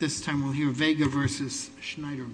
This time we'll hear Vega v. Schneiderman.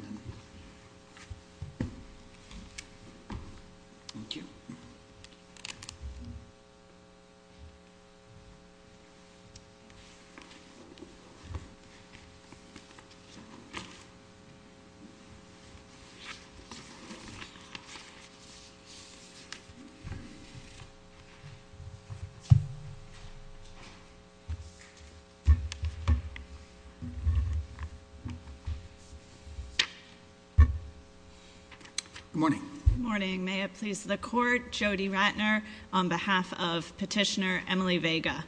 Good morning. Good morning. May it please the court, Jody Ratner on behalf of petitioner Emily Vega.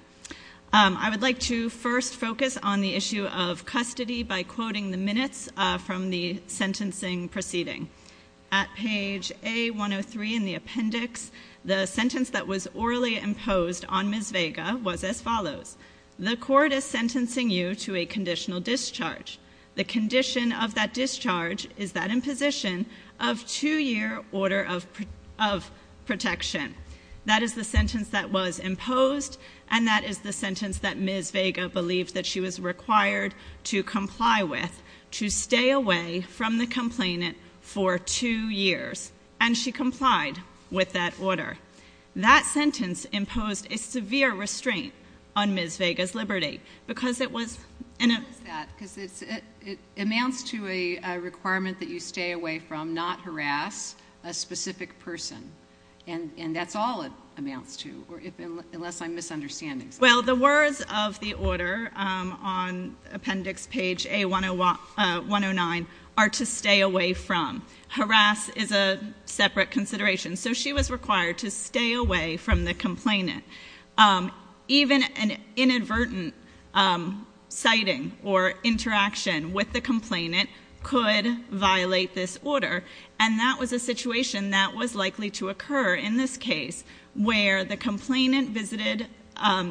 I would like to first focus on the issue of custody by quoting the minutes from the sentencing proceeding. At page A-103 in the appendix, the sentence that was orally imposed on Ms. Vega was as follows. The court is sentencing you to a conditional discharge. The condition of that discharge is that imposition of two-year order of protection. That is the sentence that was imposed and that is the sentence that Ms. Vega believed that she was required to comply with to stay away from the complainant for two years, and she complied with that order. That sentence imposed a severe restraint on Ms. Vega's liberty because it was... Why is that? Because it amounts to a requirement that you stay away from, not harass, a specific person. And that's all it amounts to, unless I'm misunderstanding something. Well, the words of the order on appendix page A-109 are to stay away from. Harass is a separate consideration. So she was required to stay away from the complainant. Even an inadvertent sighting or interaction with the complainant could violate this order, and that was a situation that was likely to occur in this case where the complainant visited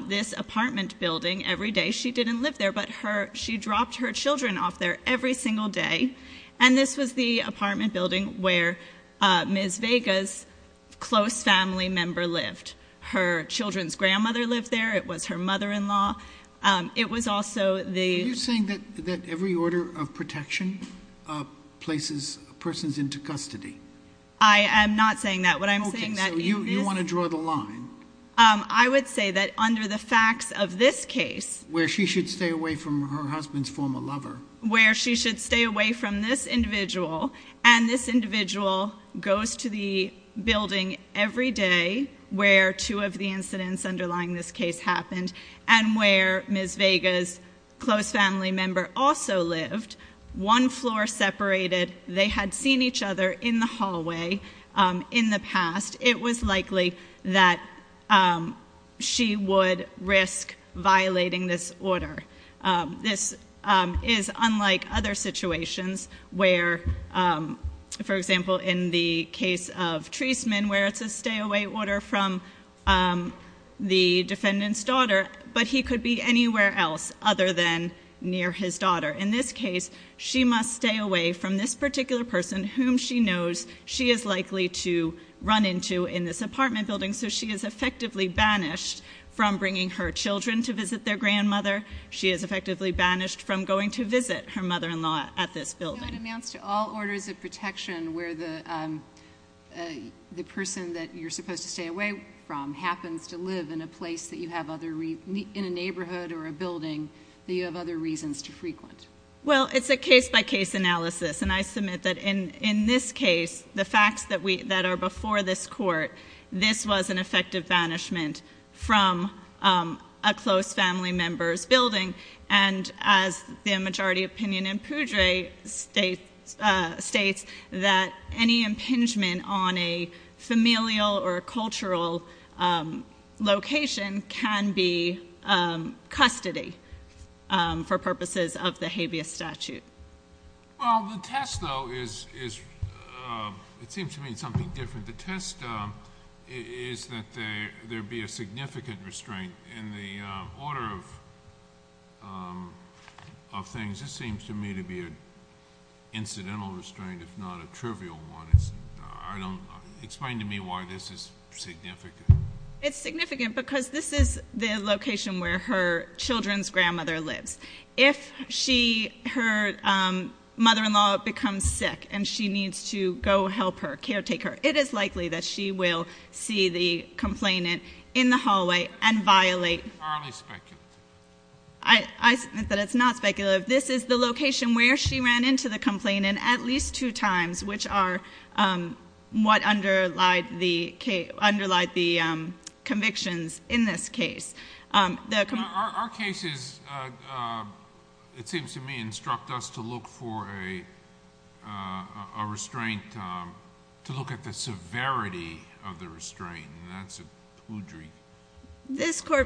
this apartment building every day. She didn't live there, but she dropped her children off there every single day. And this was the apartment building where Ms. Vega's close family member lived. Her children's grandmother lived there. It was her mother-in-law. It was also the... Are you saying that every order of protection places persons into custody? I am not saying that. What I'm saying is... Okay, so you want to draw the line. I would say that under the facts of this case... Where she should stay away from her husband's former lover. Where she should stay away from this individual. And this individual goes to the building every day where two of the incidents underlying this case happened, and where Ms. Vega's close family member also lived, one floor separated. They had seen each other in the hallway in the past. It was likely that she would risk violating this order. This is unlike other situations where, for example, in the case of Treisman, where it's a stay-away order from the defendant's daughter, but he could be anywhere else other than near his daughter. In this case, she must stay away from this particular person, whom she knows she is likely to run into in this apartment building. So she is effectively banished from bringing her children to visit their grandmother. She is effectively banished from going to visit her mother-in-law at this building. It amounts to all orders of protection where the person that you're supposed to stay away from happens to live in a place that you have other... In a neighborhood or a building that you have other reasons to frequent. Well, it's a case-by-case analysis. And I submit that in this case, the facts that are before this court, this was an effective banishment from a close family member's building. And as the majority opinion in Poudre states, that any impingement on a familial or a cultural location can be custody for purposes of the habeas statute. Well, the test, though, is... The test is that there be a significant restraint in the order of things. This seems to me to be an incidental restraint, if not a trivial one. Explain to me why this is significant. It's significant because this is the location where her children's grandmother lives. If her mother-in-law becomes sick and she needs to go help her, caretake her, it is likely that she will see the complainant in the hallway and violate... It's highly speculative. I submit that it's not speculative. This is the location where she ran into the complainant at least two times, which are what underlie the convictions in this case. Our cases, it seems to me, instruct us to look for a restraint, to look at the severity of the restraint, and that's a Poudre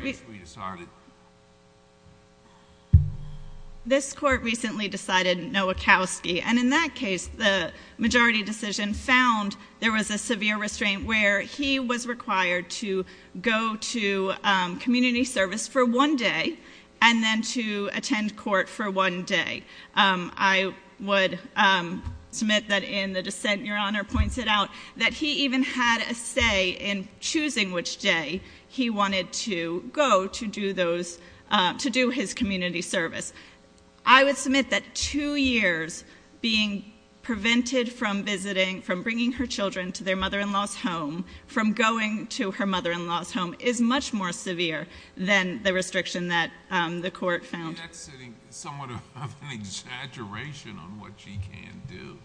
case we decided. This court recently decided Nowakowski, and in that case the majority decision found there was a severe restraint where he was required to go to community service for one day and then to attend court for one day. I would submit that in the dissent, Your Honor points it out, that he even had a say in choosing which day he wanted to go to do his community service. I would submit that two years being prevented from visiting, from bringing her children to their mother-in-law's home, from going to her mother-in-law's home, is much more severe than the restriction that the court found. I think that's sitting somewhat of an exaggeration on what she can do.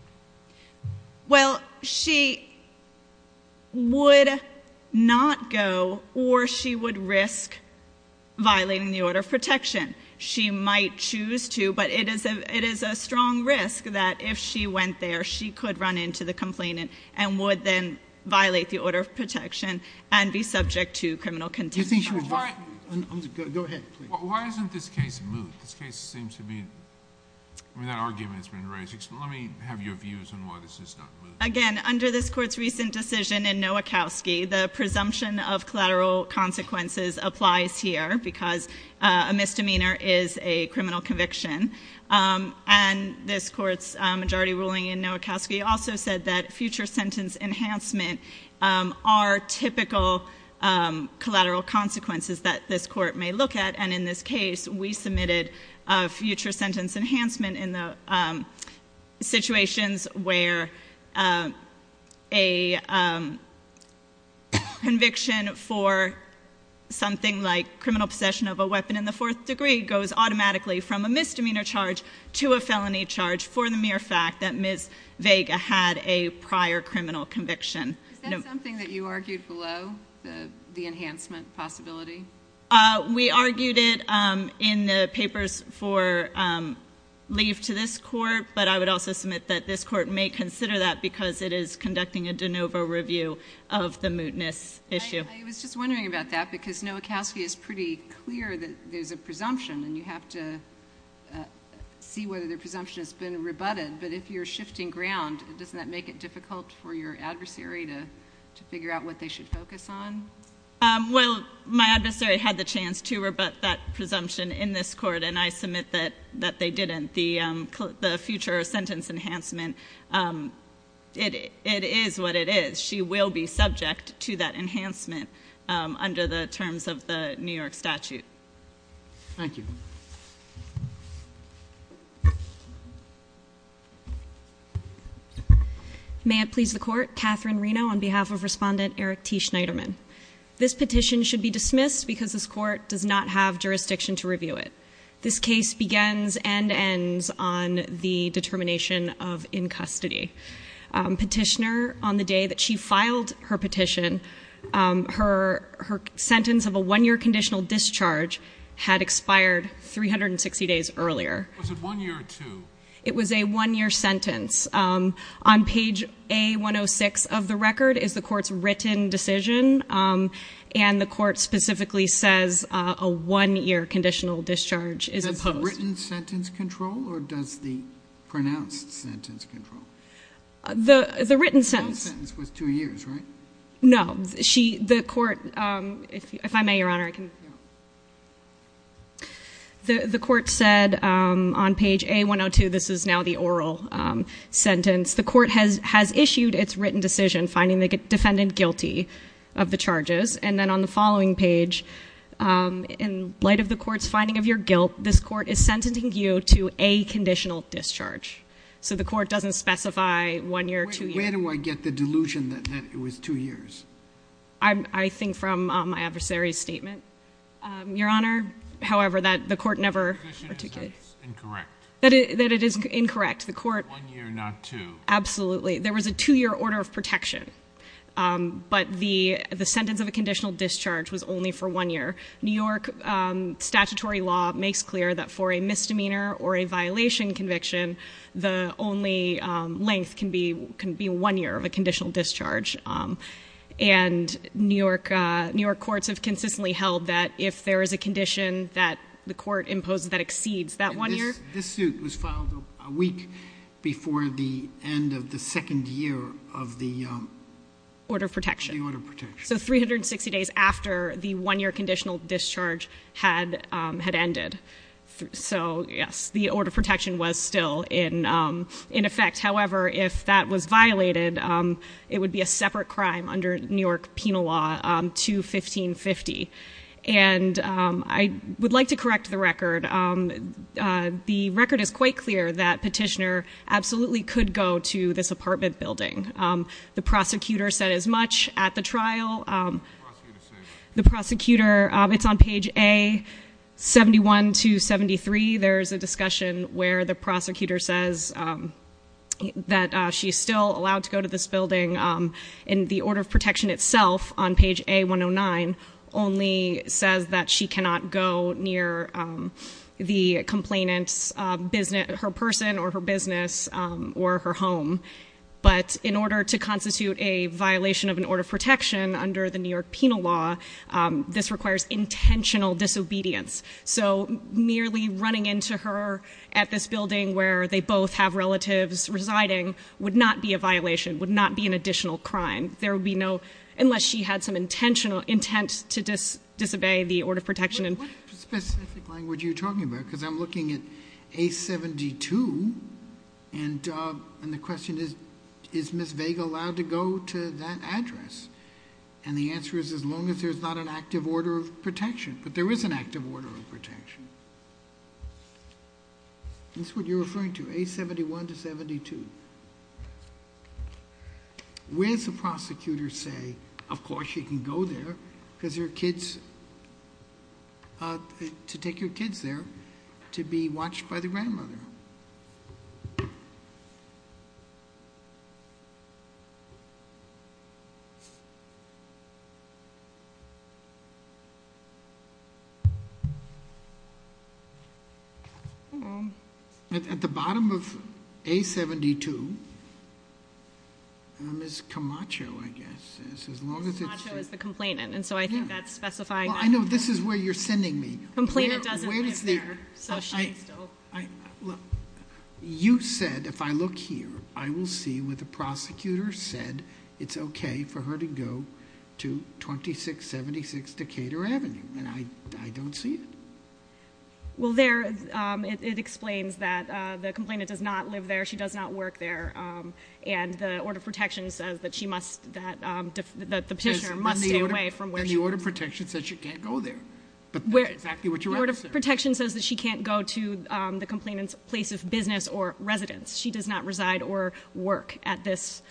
Well, she would not go or she would risk violating the order of protection. She might choose to, but it is a strong risk that if she went there, she could run into the complainant and would then violate the order of protection and be subject to criminal contempt. Go ahead. Why isn't this case moved? This case seems to be... that argument has been raised. Let me have your views on why this is not moved. Again, under this court's recent decision in Nowakowski, the presumption of collateral consequences applies here because a misdemeanor is a criminal conviction. This court's majority ruling in Nowakowski also said that future sentence enhancement are typical collateral consequences that this court may look at, and in this case we submitted a future sentence enhancement in the situations where a conviction for something like criminal possession of a weapon in the fourth degree goes automatically from a misdemeanor charge to a felony charge for the mere fact that Ms. Vega had a prior criminal conviction. Is that something that you argued below, the enhancement possibility? We argued it in the papers for leave to this court, but I would also submit that this court may consider that because it is conducting a de novo review of the mootness issue. I was just wondering about that because Nowakowski is pretty clear that there's a presumption and you have to see whether the presumption has been rebutted, but if you're shifting ground, doesn't that make it difficult for your adversary to figure out what they should focus on? Well, my adversary had the chance to rebut that presumption in this court, and I submit that they didn't. The future sentence enhancement, it is what it is. She will be subject to that enhancement under the terms of the New York statute. Thank you. May it please the Court, Catherine Reno on behalf of Respondent Eric T. Schneiderman. This petition should be dismissed because this court does not have jurisdiction to review it. This case begins and ends on the determination of in custody. Petitioner, on the day that she filed her petition, her sentence of a one-year conditional discharge had expired 360 days earlier. Was it one year or two? It was a one-year sentence. On page A106 of the record is the court's written decision, and the court specifically says a one-year conditional discharge is opposed. Does the written sentence control or does the pronounced sentence control? The written sentence. The pronounced sentence was two years, right? No. The court, if I may, Your Honor. The court said on page A102, this is now the oral sentence, the court has issued its written decision finding the defendant guilty of the charges, and then on the following page, in light of the court's finding of your guilt, this court is sentencing you to a conditional discharge. So the court doesn't specify one year or two years. Where do I get the delusion that it was two years? I think from my adversary's statement, Your Honor. However, the court never articulated it. Incorrect. That it is incorrect. One year, not two. Absolutely. There was a two-year order of protection, but the sentence of a conditional discharge was only for one year. New York statutory law makes clear that for a misdemeanor or a violation conviction, the only length can be one year of a conditional discharge. And New York courts have consistently held that if there is a condition that the court imposes that exceeds that one year. This suit was filed a week before the end of the second year of the order of protection. So 360 days after the one-year conditional discharge had ended. So yes, the order of protection was still in effect. However, if that was violated, it would be a separate crime under New York penal law to 1550. And I would like to correct the record. The record is quite clear that Petitioner absolutely could go to this apartment building. The prosecutor said as much at the trial. What did the prosecutor say? The prosecutor, it's on page A, 71 to 73. There's a discussion where the prosecutor says that she's still allowed to go to this building. And the order of protection itself, on page A109, only says that she cannot go near the complainant's, her person, or her business, or her home. But in order to constitute a violation of an order of protection under the New York penal law, this requires intentional disobedience. So nearly running into her at this building where they both have relatives residing would not be a violation, would not be an additional crime. There would be no, unless she had some intent to disobey the order of protection. What specific language are you talking about? Because I'm looking at A72, and the question is, is Ms. Vega allowed to go to that address? And the answer is, as long as there's not an active order of protection. But there is an active order of protection. That's what you're referring to, A71 to 72. Where's the prosecutor say, of course she can go there, because there are kids, to take your kids there, to be watched by the grandmother? Hello. At the bottom of A72, Ms. Camacho, I guess, as long as it's- Ms. Camacho is the complainant, and so I think that's specifying- Well, I know this is where you're sending me. Complainant doesn't live there, so she's still- Wait a second. Let me see. Okay. You said, if I look here, I will see where the prosecutor said it's okay for her to go to 2676 Decatur Avenue, and I don't see it. Well, it explains that the complainant does not live there, she does not work there, and the order of protection says that the petitioner must stay away from where she lives. And the order of protection says she can't go there, but that's exactly what you're asking. The order of protection says that she can't go to the complainant's place of business or residence. She does not reside or work at this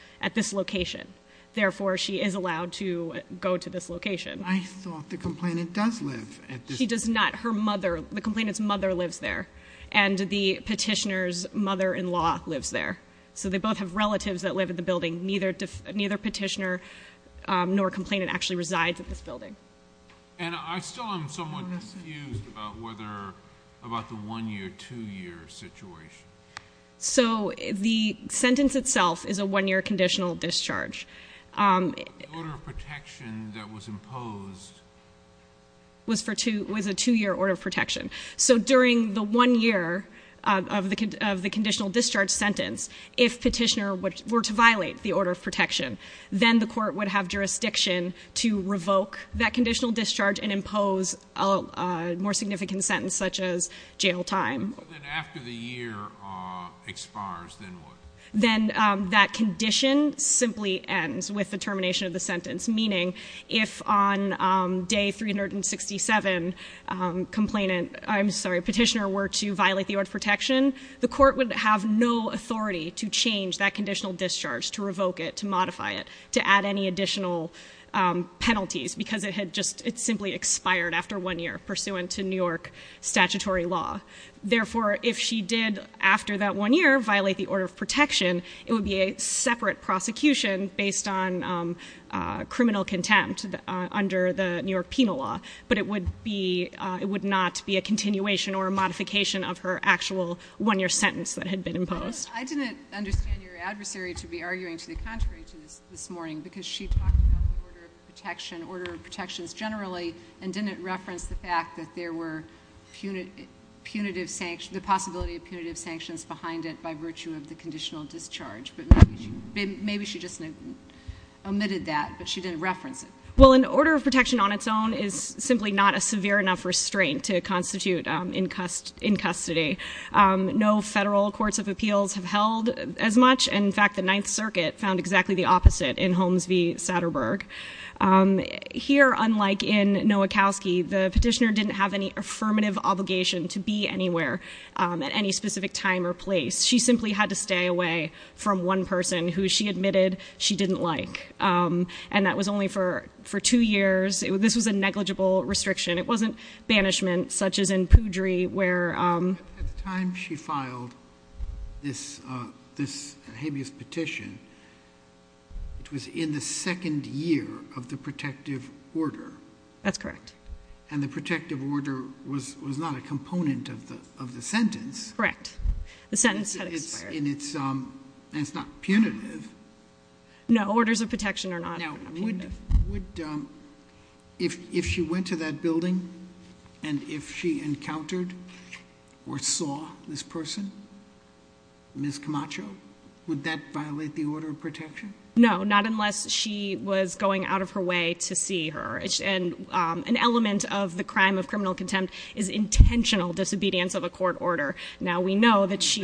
location. Therefore, she is allowed to go to this location. I thought the complainant does live at this- She does not. Her mother, the complainant's mother lives there, and the petitioner's mother-in-law lives there. So they both have relatives that live at the building. Neither petitioner nor complainant actually resides at this building. And I still am somewhat confused about the one-year, two-year situation. So the sentence itself is a one-year conditional discharge. But the order of protection that was imposed- Was a two-year order of protection. So during the one year of the conditional discharge sentence, if petitioner were to violate the order of protection, then the court would have jurisdiction to revoke that conditional discharge and impose a more significant sentence such as jail time. So then after the year expires, then what? Then that condition simply ends with the termination of the sentence. Meaning, if on day 367, petitioner were to violate the order of protection, the court would have no authority to change that conditional discharge, to revoke it, to modify it, to add any additional penalties because it simply expired after one year pursuant to New York statutory law. Therefore, if she did, after that one year, violate the order of protection, it would be a separate prosecution based on criminal contempt under the New York penal law. But it would be, it would not be a continuation or a modification of her actual one-year sentence that had been imposed. I didn't understand your adversary to be arguing to the contrary to this morning because she talked about the order of protection, order of protections generally, and didn't reference the fact that there were punitive sanctions, the possibility of punitive sanctions behind it by virtue of the conditional discharge. But maybe she just omitted that, but she didn't reference it. Well, an order of protection on its own is simply not a severe enough restraint to constitute in custody. No federal courts of appeals have held as much. In fact, the Ninth Circuit found exactly the opposite in Holmes v. Satterberg. Here, unlike in Nowakowski, the petitioner didn't have any affirmative obligation to be anywhere at any specific time or place. She simply had to stay away from one person who she admitted she didn't like. And that was only for two years. This was a negligible restriction. It wasn't banishment such as in Poudry where- At the time she filed this habeas petition, it was in the second year of the protective order. That's correct. And the protective order was not a component of the sentence. Correct. The sentence had expired. And it's not punitive. No, orders of protection are not punitive. Would- if she went to that building and if she encountered or saw this person, Ms. Camacho, would that violate the order of protection? No, not unless she was going out of her way to see her. And an element of the crime of criminal contempt is intentional disobedience of a court order. Now, we know that she-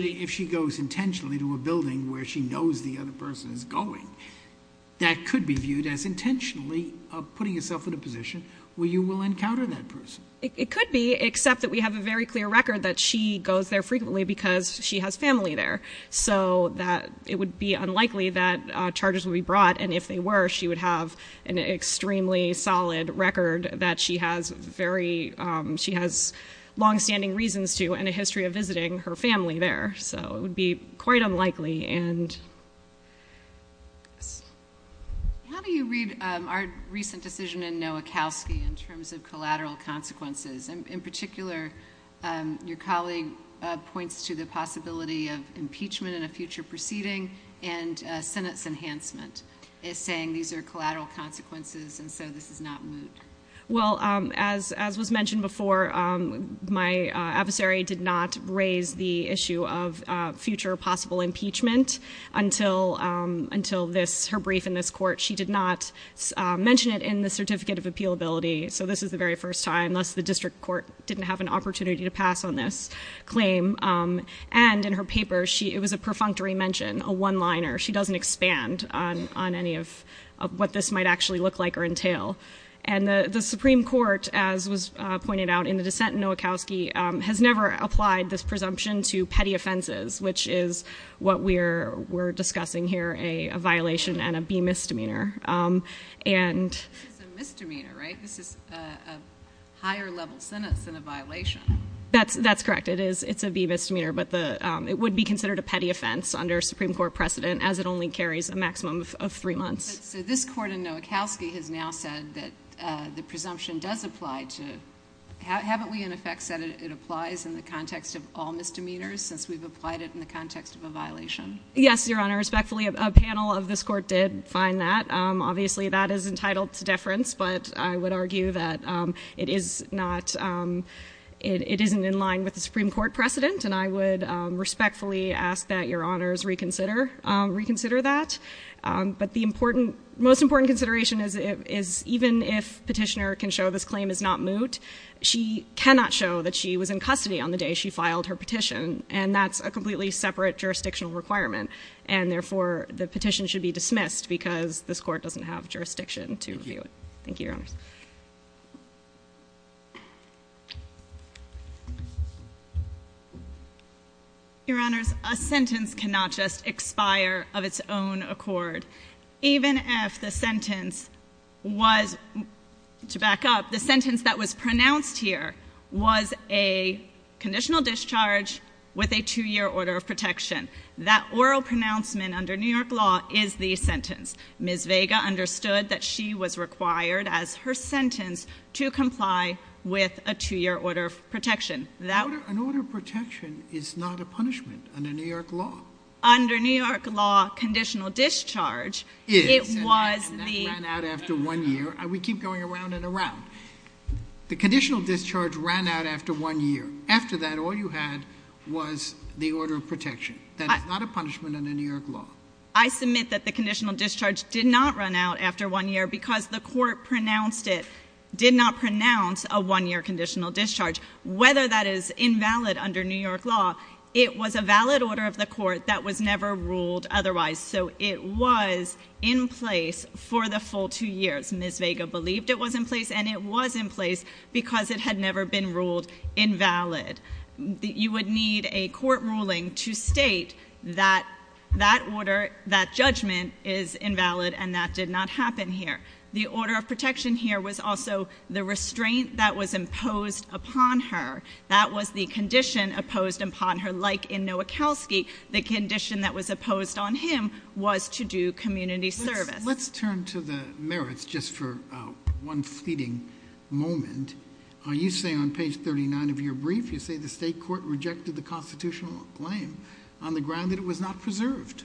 That could be viewed as intentionally putting yourself in a position where you will encounter that person. It could be, except that we have a very clear record that she goes there frequently because she has family there. So that it would be unlikely that charges would be brought. And if they were, she would have an extremely solid record that she has very- she has longstanding reasons to and a history of visiting her family there. So it would be quite unlikely. How do you read our recent decision in Nowakowski in terms of collateral consequences? In particular, your colleague points to the possibility of impeachment in a future proceeding and a sentence enhancement. It's saying these are collateral consequences and so this is not moot. Well, as was mentioned before, my adversary did not raise the issue of future possible impeachment until her brief in this court. She did not mention it in the Certificate of Appealability. So this is the very first time, unless the district court didn't have an opportunity to pass on this claim. And in her paper, it was a perfunctory mention, a one-liner. She doesn't expand on any of what this might actually look like or entail. And the Supreme Court, as was pointed out in the dissent in Nowakowski, has never applied this presumption to petty offenses, which is what we're discussing here, a violation and a B misdemeanor. This is a misdemeanor, right? This is a higher-level sentence and a violation. That's correct. It's a B misdemeanor, but it would be considered a petty offense under Supreme Court precedent as it only carries a maximum of three months. So this court in Nowakowski has now said that the presumption does apply to – haven't we, in effect, said it applies in the context of all misdemeanors since we've applied it in the context of a violation? Yes, Your Honor. Respectfully, a panel of this court did find that. Obviously, that is entitled to deference, but I would argue that it is not – it isn't in line with the Supreme Court precedent. And I would respectfully ask that Your Honors reconsider that. But the important – most important consideration is even if Petitioner can show this claim is not moot, she cannot show that she was in custody on the day she filed her petition, and that's a completely separate jurisdictional requirement. And therefore, the petition should be dismissed because this court doesn't have jurisdiction to review it. Thank you, Your Honors. Your Honors, a sentence cannot just expire of its own accord. Even if the sentence was – to back up, the sentence that was pronounced here was a conditional discharge with a two-year order of protection. That oral pronouncement under New York law is the sentence. Ms. Vega understood that she was required as her sentence to comply with a two-year order of protection. An order of protection is not a punishment under New York law. Under New York law, conditional discharge, it was the – And that ran out after one year. We keep going around and around. The conditional discharge ran out after one year. After that, all you had was the order of protection. That is not a punishment under New York law. I submit that the conditional discharge did not run out after one year because the court pronounced it – did not pronounce a one-year conditional discharge. Whether that is invalid under New York law, it was a valid order of the court that was never ruled otherwise. So it was in place for the full two years. Ms. Vega believed it was in place, and it was in place because it had never been ruled invalid. You would need a court ruling to state that that order, that judgment is invalid, and that did not happen here. The order of protection here was also the restraint that was imposed upon her. That was the condition imposed upon her. Like in Nowakowski, the condition that was imposed on him was to do community service. Let's turn to the merits just for one fleeting moment. You say on page 39 of your brief, you say the state court rejected the constitutional claim on the ground that it was not preserved.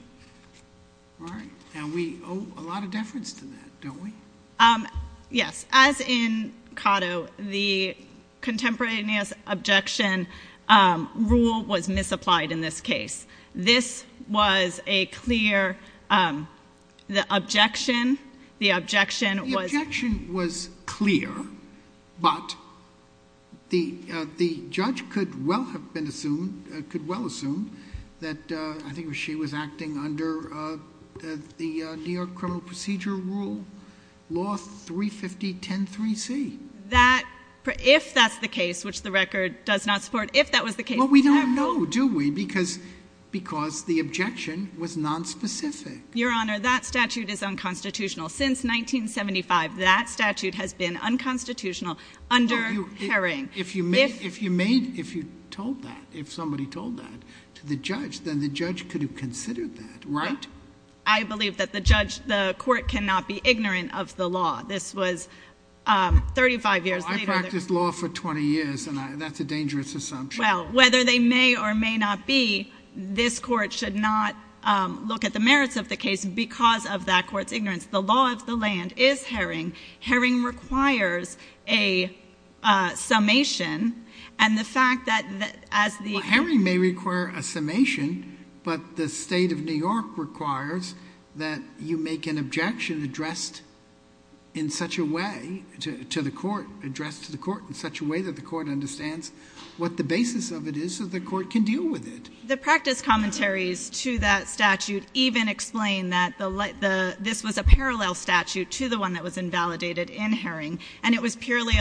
All right. Now, we owe a lot of deference to that, don't we? Yes. As in Cotto, the contemporaneous objection rule was misapplied in this case. This was a clear – the objection, the objection was – the judge could well have been assumed, could well assume, that I think she was acting under the New York Criminal Procedure Rule, Law 350103C. That – if that's the case, which the record does not support, if that was the case – Well, we don't know, do we? Because the objection was nonspecific. Your Honor, that statute is unconstitutional. Since 1975, that statute has been unconstitutional under Haring. If you made – if you told that, if somebody told that to the judge, then the judge could have considered that, right? I believe that the judge – the court cannot be ignorant of the law. This was 35 years later. I practiced law for 20 years, and that's a dangerous assumption. Well, whether they may or may not be, this court should not look at the merits of the case because of that court's ignorance. The law of the land is Haring. Haring requires a summation, and the fact that as the – Well, Haring may require a summation, but the State of New York requires that you make an objection addressed in such a way to the court – The practice commentaries to that statute even explain that the – this was a parallel statute to the one that was invalidated in Haring, and it was purely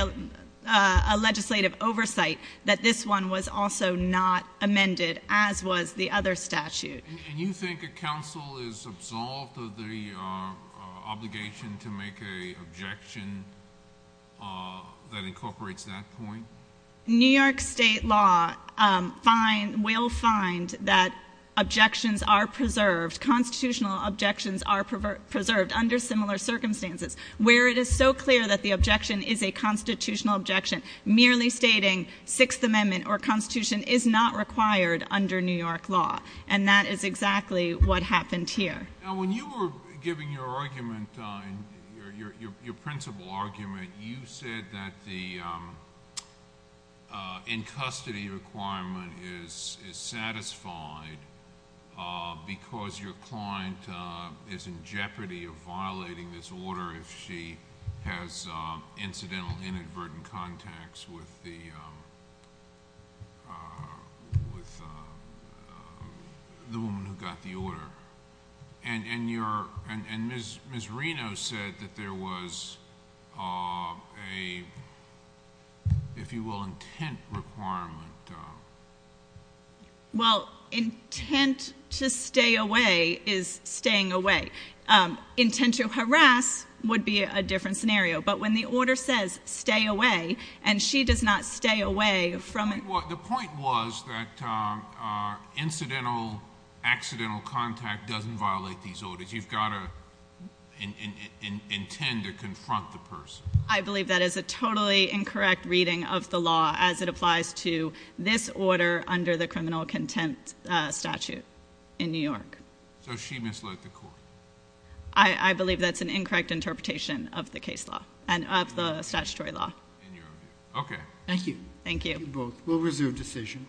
a legislative oversight that this one was also not amended, as was the other statute. And you think a counsel is absolved of the obligation to make an objection that incorporates that point? New York State law will find that objections are preserved, constitutional objections are preserved under similar circumstances, where it is so clear that the objection is a constitutional objection, merely stating Sixth Amendment or Constitution is not required under New York law, and that is exactly what happened here. Now, when you were giving your argument, your principal argument, you said that the in-custody requirement is satisfied because your client is in jeopardy of violating this order if she has incidental inadvertent contacts with the woman who got the order. And Ms. Reno said that there was a, if you will, intent requirement. Well, intent to stay away is staying away. Intent to harass would be a different scenario, but when the order says stay away, and she does not stay away from – The point was that incidental, accidental contact doesn't violate these orders. You've got to intend to confront the person. I believe that is a totally incorrect reading of the law as it applies to this order under the criminal contempt statute in New York. So she misled the court? I believe that's an incorrect interpretation of the case law and of the statutory law. Okay. Thank you. Thank you. We'll reserve decision.